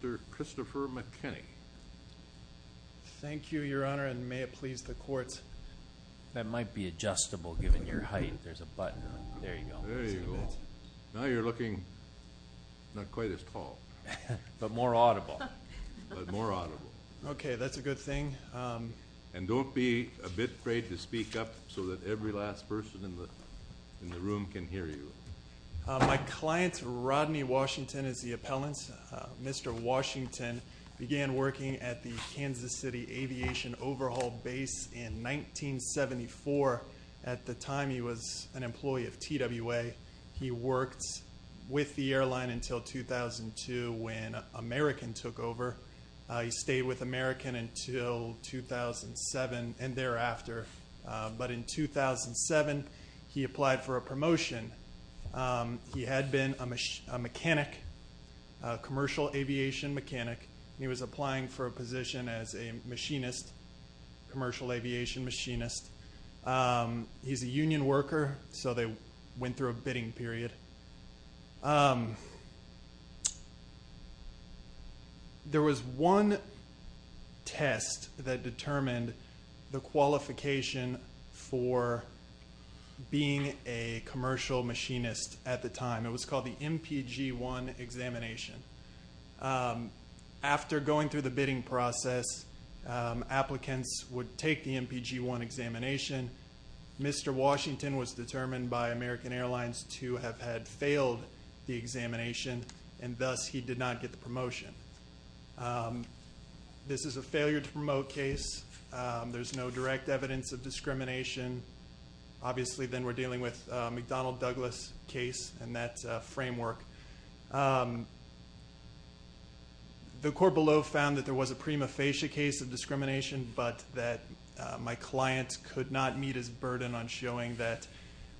Mr. Christopher McKinney. Thank you, your honor, and may it please the courts. That might be adjustable given your height. There's a button. There you go. Now you're looking not quite as tall. But more audible. But more audible. Okay, that's a good thing. And don't be a bit afraid to speak up so that every last person in the room can hear you. My client, Rodney Washington, is the appellant. Mr. Washington began working at the Kansas City Aviation Overhaul Base in 1974. At the time he was an employee of TWA. He worked with the airline until 2002 when American took over. He stayed with American until 2007 and thereafter. But in 2007 he applied for a promotion. He had been a mechanic, commercial aviation mechanic. He was applying for a position as a machinist, commercial aviation machinist. He's a union worker so they went through a bidding period. There was one test that determined the qualification for being a commercial machinist at the time. It was called the MPG-1 examination. After going through the bidding process, applicants would take the MPG-1 examination. Mr. Washington was determined by American Airlines to have had failed the examination and thus he did not get the promotion. This is a failure to promote case. There's no direct evidence of discrimination. Obviously then we're dealing with McDonnell Douglas case and that framework. The court below found that there was a prima facie case of discrimination but that my client could not meet his burden on showing that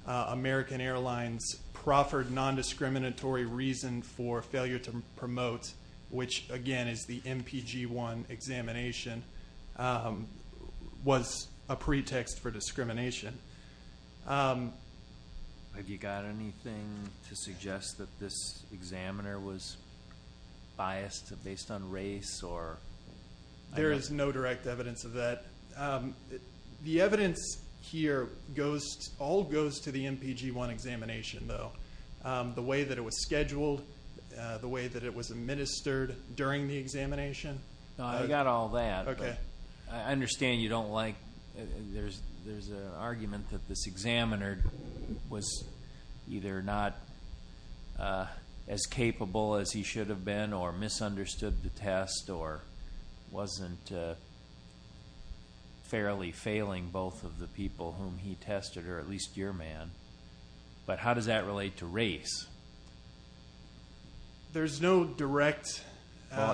American Airlines proffered non-discriminatory reason for failure to promote, which again is the MPG-1 examination, was a pretext for discrimination. Have you got anything to suggest that this examiner was biased based on race or? There is no direct evidence of that. The evidence here goes, all goes to the MPG-1 examination though. The way that it was scheduled, the way that it was administered during the examination. I got all that. I understand you don't like, there's an argument that this examiner was either not as capable as he should have been or misunderstood the test or wasn't fairly failing both of the people whom he tested or at least your man. But how does that relate to there's no direct.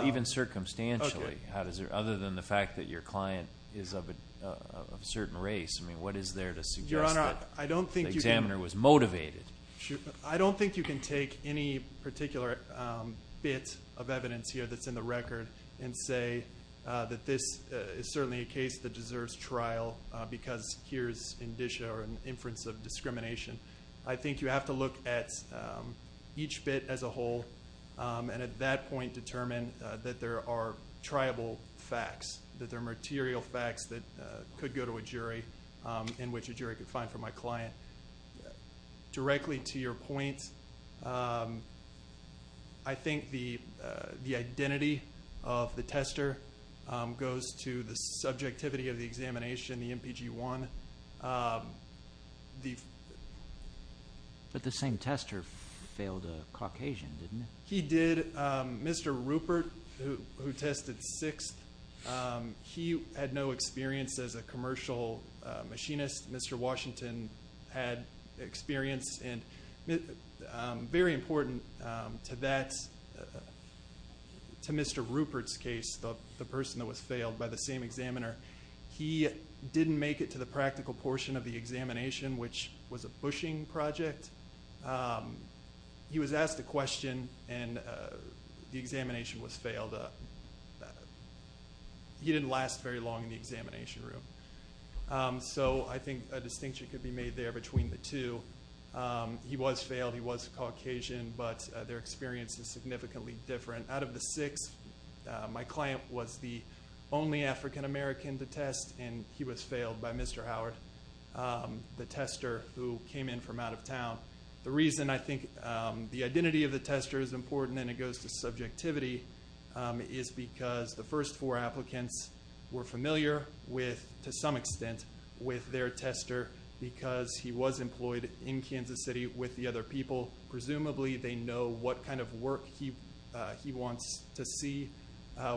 Even circumstantially, how does there, other than the fact that your client is of a certain race, I mean what is there to suggest that the examiner was motivated? I don't think you can take any particular bit of evidence here that's in the record and say that this is certainly a case that deserves trial because here's indicia or an inference of discrimination. I think you have to look at each bit as a whole and at that point determine that there are triable facts, that there are material facts that could go to a jury in which a jury could find for my client. Directly to your point, I think the the identity of the tester goes to the subjectivity of the examination, the MPG-1, but the same tester failed a Caucasian didn't he? He did. Mr. Rupert, who tested sixth, he had no experience as a commercial machinist. Mr. Washington had experience and very important to that, to Mr. Rupert's case, the person that was failed by the same examiner, he didn't make it to the practical portion of the he was asked a question and the examination was failed. He didn't last very long in the examination room, so I think a distinction could be made there between the two. He was failed, he was Caucasian, but their experience is significantly different. Out of the six, my client was the only African-American to test and he was failed by Mr. Howard, the tester who came in from out of town. The reason I think the identity of the tester is important and it goes to subjectivity is because the first four applicants were familiar with, to some extent, with their tester because he was employed in Kansas City with the other people. Presumably they know what kind of work he he wants to see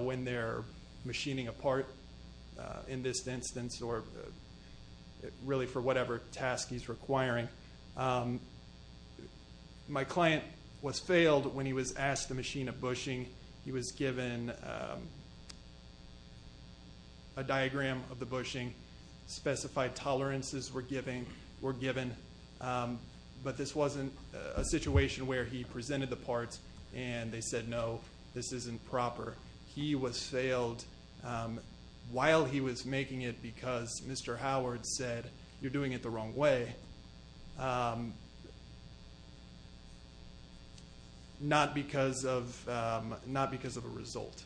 when they're machining a part in this instance or really for whatever task he's requiring. My client was failed when he was asked the machine of bushing. He was given a diagram of the bushing, specified tolerances were given, but this wasn't a situation where he presented the parts and they said no, this isn't proper. He was failed while he was making it because Mr. Howard said you're doing it the wrong way, not because of a result.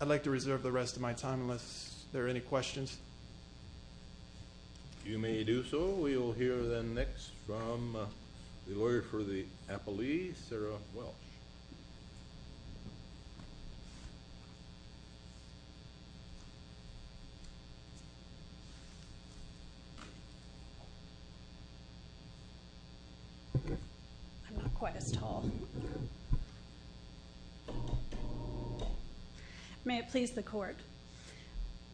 I'd like to reserve the rest of my time unless there are any questions. You may do so. We will hear then next from the lawyer for the appellee, Sarah Welsh. I'm not quite as tall. May it please the court.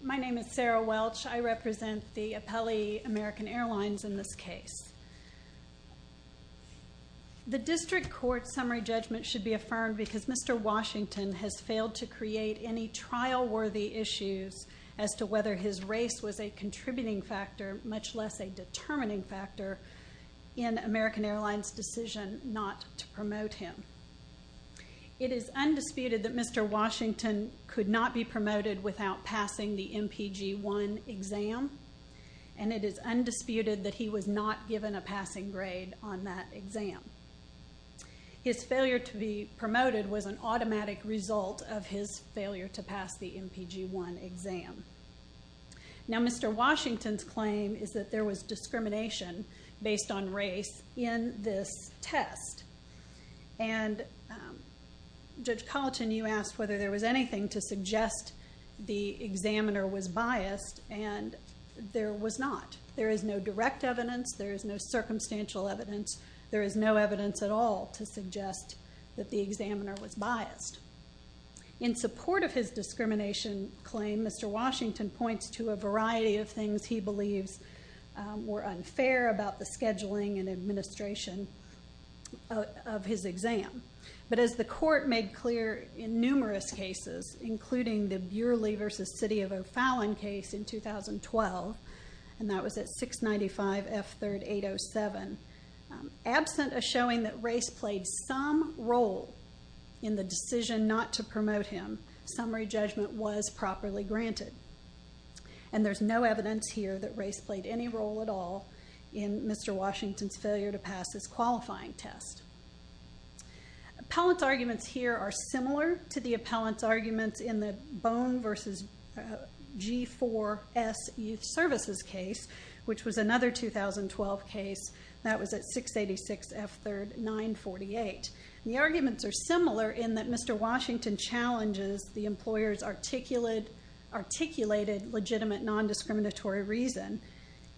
My name is Sarah Welsh. I represent the appellee American Airlines in this case. The district court summary judgment should be affirmed because Mr. Washington has failed to create any factor, much less a determining factor in American Airlines' decision not to promote him. It is undisputed that Mr. Washington could not be promoted without passing the MPG-1 exam and it is undisputed that he was not given a passing grade on that exam. His failure to be promoted was an automatic result of his failure to pass the MPG-1 exam. Mr. Washington's claim is that there was discrimination based on race in this test. Judge Colleton, you asked whether there was anything to suggest the examiner was biased and there was not. There is no direct evidence. There is no circumstantial evidence. There is no evidence. In support of his discrimination claim, Mr. Washington points to a variety of things he believes were unfair about the scheduling and administration of his exam. But as the court made clear in numerous cases, including the Bureley v. City of O'Fallon case in 2012, and that was at 695 F. 3rd 807, absent a showing that race played some role in the decision not to promote him, summary judgment was properly granted. And there is no evidence here that race played any role at all in Mr. Washington's failure to pass this qualifying test. Appellant's arguments here are similar to the appellant's arguments in the Bone v. G4S Youth Services case, which was another 2012 case. That was at 686 F. 3rd 948. The arguments are similar in that Mr. Washington challenges the employer's articulated legitimate nondiscriminatory reason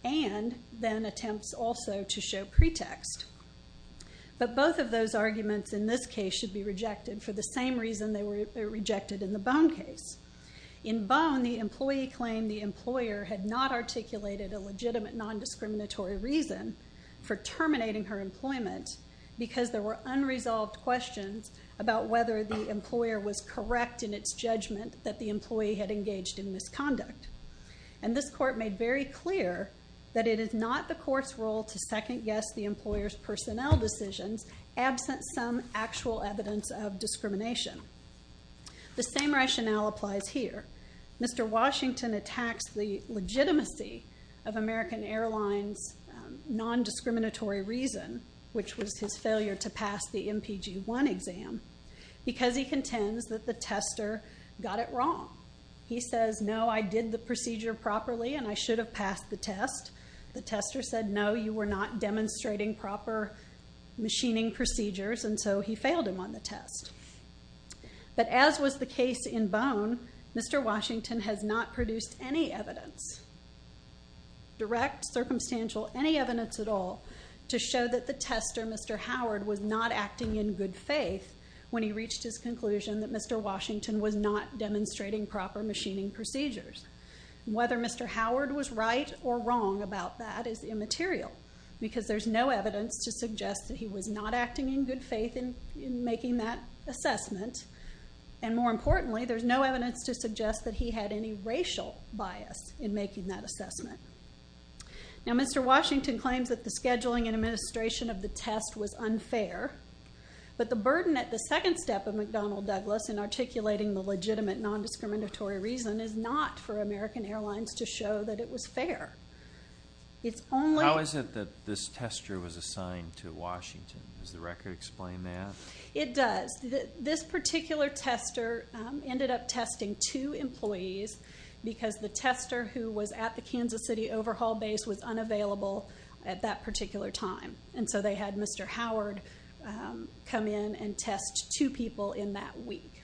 and then attempts also to show pretext. But both of those arguments in this case should be rejected for the same reason they were rejected in the Bone case. In Bone, the employee claimed the employer had not articulated a legitimate nondiscriminatory reason for terminating her employment because there were unresolved questions about whether the employer was correct in its judgment that the employee had engaged in misconduct. And this court made very clear that it is not the court's role to second-guess the employer's personnel decisions absent some actual evidence of discrimination. The same rationale applies here. Mr. Washington attacks the legitimacy of American Airlines' nondiscriminatory reason, which was his failure to pass the MPG-1 exam, because he contends that the tester got it wrong. He says, no, I did the procedure properly and I should have passed the test. The tester said, no, you were not demonstrating proper machining procedures, and so he failed him on the test. But as was the case in Bone, Mr. Washington has not produced any evidence, direct, circumstantial, any evidence at all, to show that the tester, Mr. Howard, was not acting in good faith when he reached his conclusion that Mr. Washington was not demonstrating proper machining procedures. Whether Mr. Howard was right or wrong about that is immaterial, because there's no evidence to suggest that he was not acting in good faith in making that assessment. And more importantly, there's no evidence to suggest that he had any racial bias in making that assessment. Now, Mr. Washington claims that the scheduling and administration of the test was unfair, but the burden at the second step of McDonnell Douglas in articulating the legitimate nondiscriminatory reason is not for American Airlines to show that it was fair. How is it that this tester was assigned to Washington? Does the record explain that? It does. This particular tester ended up testing two employees, because the tester who was at the Kansas City overhaul base was unavailable at that particular time. And so they had Mr. Howard come in and test two people in that week.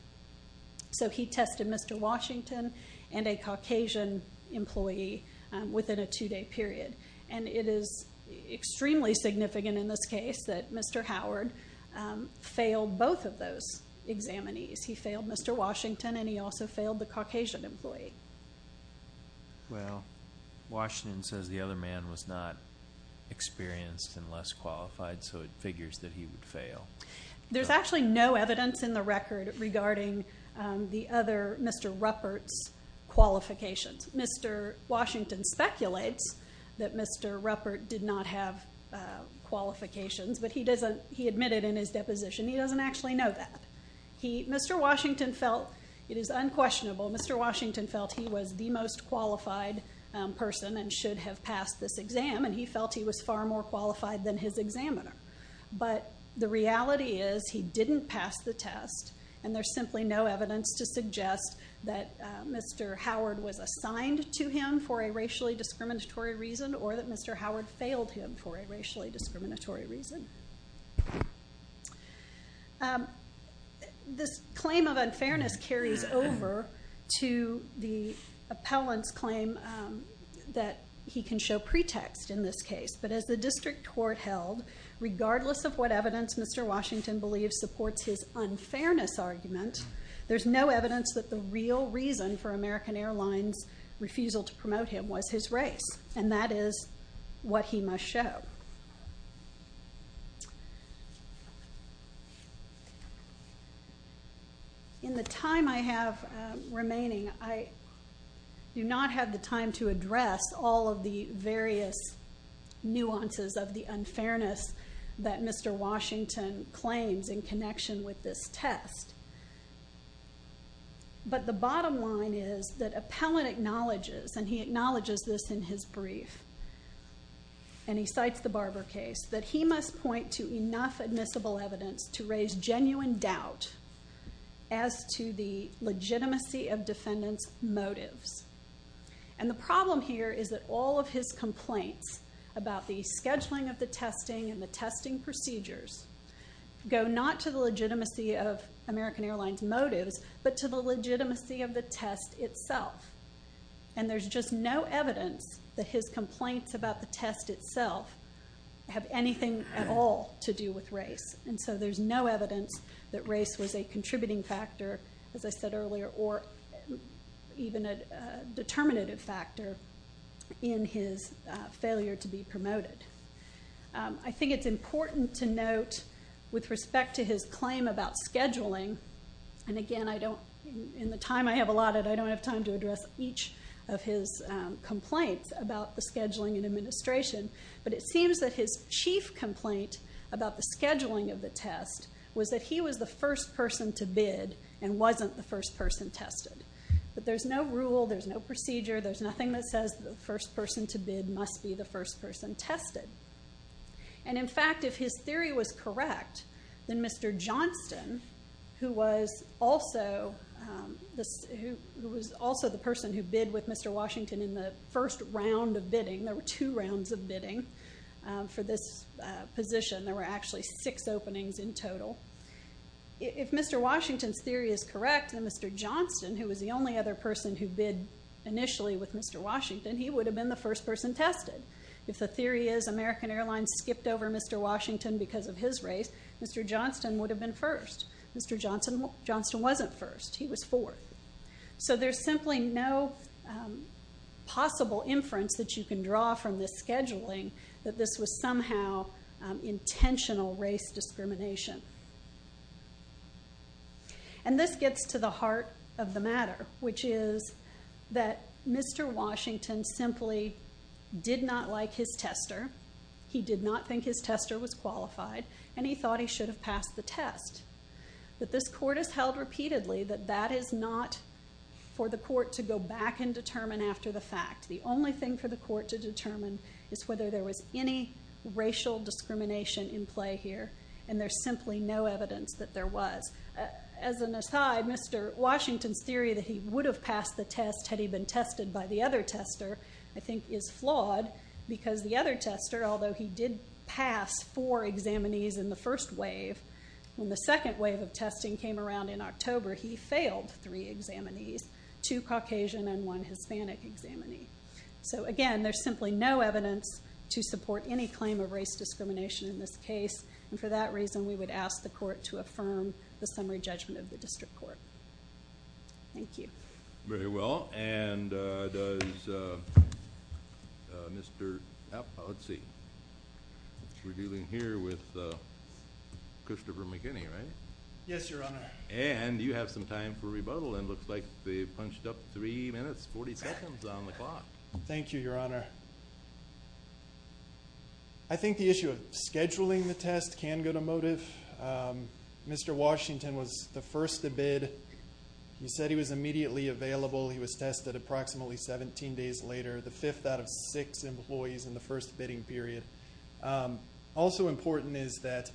So he tested Mr. Washington and a Caucasian employee within a two-day period. And it is extremely significant in this case that Mr. Howard failed both of those examinees. He failed Mr. Washington, and he also failed the Caucasian employee. Well, Washington says the other man was not experienced and less qualified, so it figures that he would fail. There's actually no evidence in the record regarding the other Mr. Ruppert's qualifications. Mr. Washington speculates that Mr. Ruppert did not have qualifications, but he admitted in his deposition he doesn't actually know that. Mr. Washington felt it is unquestionable. Mr. Washington felt he was the most qualified person and should have passed this exam, and he felt he was far more qualified than his examiner. But the reality is he didn't pass the test, and there's simply no evidence to suggest that Mr. Howard was assigned to him for a racially discriminatory reason or that Mr. Howard failed him for a racially discriminatory reason. This claim of unfairness carries over to the appellant's claim that he can show pretext in this case. But as the district court held, regardless of what evidence Mr. Washington believes supports his unfairness argument, there's no evidence that the real reason for American Airlines' refusal to promote him was his race, and that is what he must show. In the time I have remaining, I do not have the time to address all of the various nuances of the unfairness that Mr. Washington claims in connection with this test. But the bottom line is that appellant acknowledges, and he acknowledges this in his brief, and he cites the Barber case, that he must point to enough admissible evidence to raise genuine doubt as to the legitimacy of defendant's motives. And the problem here is that all of his complaints about the scheduling of the testing and the testing procedures go not to the legitimacy of American Airlines' motives, but to the legitimacy of the test itself. And there's just no evidence that his complaints about the test itself have anything at all to do with race. And so there's no evidence that race was a contributing factor, as I said earlier, or even a determinative factor in his failure to be promoted. I think it's important to note, with respect to his claim about scheduling, and again, in the time I have allotted, I don't have time to address each of his complaints about the scheduling and administration, but it seems that his chief complaint about the scheduling of the test was that he was the first person to bid and wasn't the first person tested. But there's no rule, there's no procedure, there's nothing that says the first person to bid must be the first person tested. And in fact, if his theory was correct, then Mr. Johnston, who was also the person who bid with Mr. Washington in the first round of bidding, there were two rounds of bidding for this position, there were actually six openings in total, if Mr. Washington's theory is correct, then Mr. Johnston, who was the only other person who bid initially with Mr. Washington, he would have been the first person tested. If the theory is American Airlines skipped over Mr. Washington because of his race, Mr. Johnston would have been first. Mr. Johnston wasn't first, he was fourth. So there's simply no possible inference that you can draw from this scheduling that this was somehow intentional race discrimination. And this gets to the heart of the matter, which is that Mr. Washington simply did not like his tester, he did not think his tester was qualified, and he thought he should have passed the test. But this court has held repeatedly that that is not for the court to go back and determine after the fact. The only thing for the court to determine is whether there was any racial discrimination in play here, and there's simply no evidence that there was. As an aside, Mr. Washington's theory that he would have passed the test had he been tested by the other tester I think is flawed, because the other tester, although he did pass four examinees in the first wave, when the second wave of testing came around in October, he failed three examinees, two Caucasian and one Hispanic examinee. So again, there's simply no evidence to support any claim of race discrimination in this case, and for that reason we would ask the court to affirm the summary judgment of the district court. Thank you. Very well. And does Mr. Appel, let's see. We're dealing here with Christopher McKinney, right? Yes, Your Honor. And you have some time for rebuttal, and it looks like they've punched up three minutes, 40 seconds on the clock. Thank you, Your Honor. Thank you, Your Honor. I think the issue of scheduling the test can go to motive. Mr. Washington was the first to bid. He said he was immediately available. He was tested approximately 17 days later, the fifth out of six employees in the first bidding period. Also important is that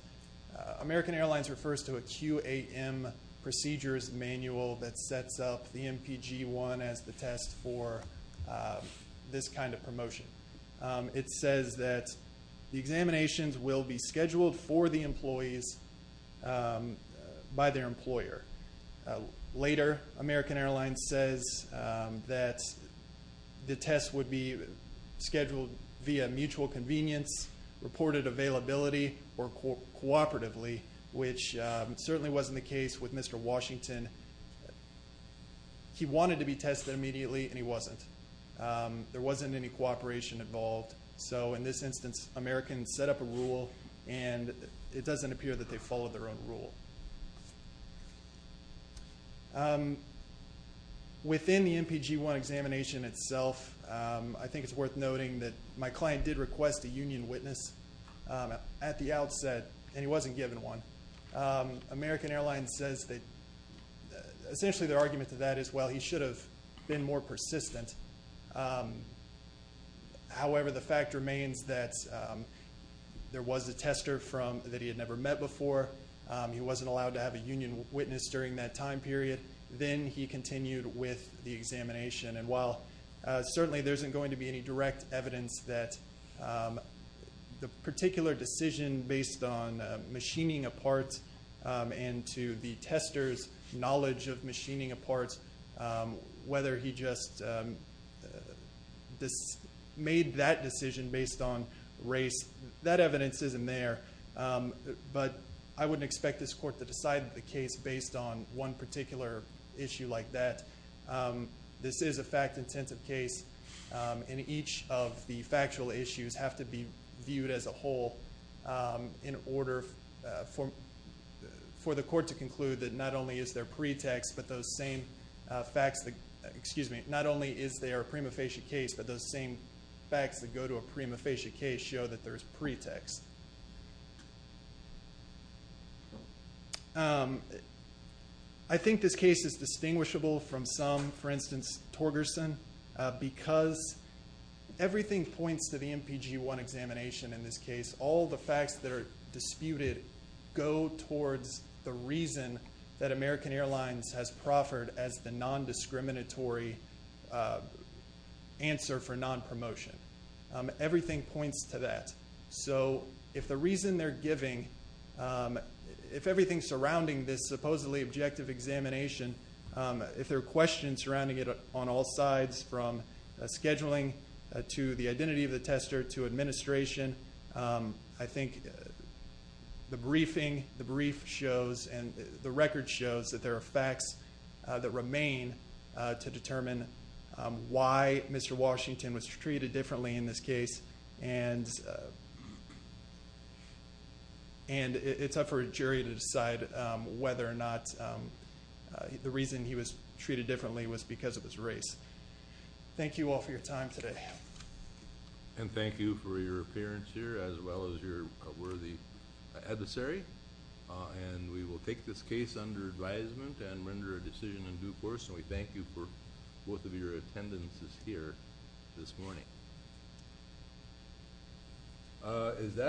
American Airlines refers to a QAM procedures manual that sets up the MPG-1 as the test for this kind of promotion. It says that the examinations will be scheduled for the employees by their employer. Later, American Airlines says that the test would be scheduled via mutual convenience, reported availability, or cooperatively, which certainly wasn't the case with Mr. Washington. He wanted to be tested immediately, and he wasn't. There wasn't any cooperation involved. So, in this instance, American set up a rule, and it doesn't appear that they followed their own rule. Within the MPG-1 examination itself, I think it's worth noting that my client did request a union witness at the outset, and he wasn't given one. American Airlines says that essentially their argument to that is, well, he should have been more persistent. However, the fact remains that there was a tester that he had never met before. He wasn't allowed to have a union witness during that time period. Then he continued with the examination. While certainly there isn't going to be any direct evidence that the particular decision based on machining a part and to the tester's knowledge of machining a part, whether he just made that decision based on race, that evidence isn't there, but I wouldn't expect this court to decide the case based on one particular issue like that. This is a fact-intensive case, and each of the factual issues have to be viewed as a whole in order for the court to conclude that not only is there a prima facie case, but those same facts that go to a prima facie case show that there's pretext. I think this case is distinguishable from some, for instance, Torgerson, because everything points to the MPG-1 examination in this case. All the facts that are disputed go towards the reason that American Airlines has proffered as the nondiscriminatory answer for nonpromotion. Everything points to that. If the reason they're giving, if everything surrounding this supposedly objective examination, if there are questions surrounding it on all sides from scheduling to the identity of the tester to administration, I think the briefing, the brief shows and the record shows that there are facts that remain to determine why Mr. Washington was treated differently in this case and it's up for a jury to decide whether or not the reason he was treated differently was because of his race. Thank you all for your time today. Thank you for your appearance here as well as your worthy adversary. We will take this case under advisement and render a decision in due course, and we thank you for both of your attendances here this morning. Is that—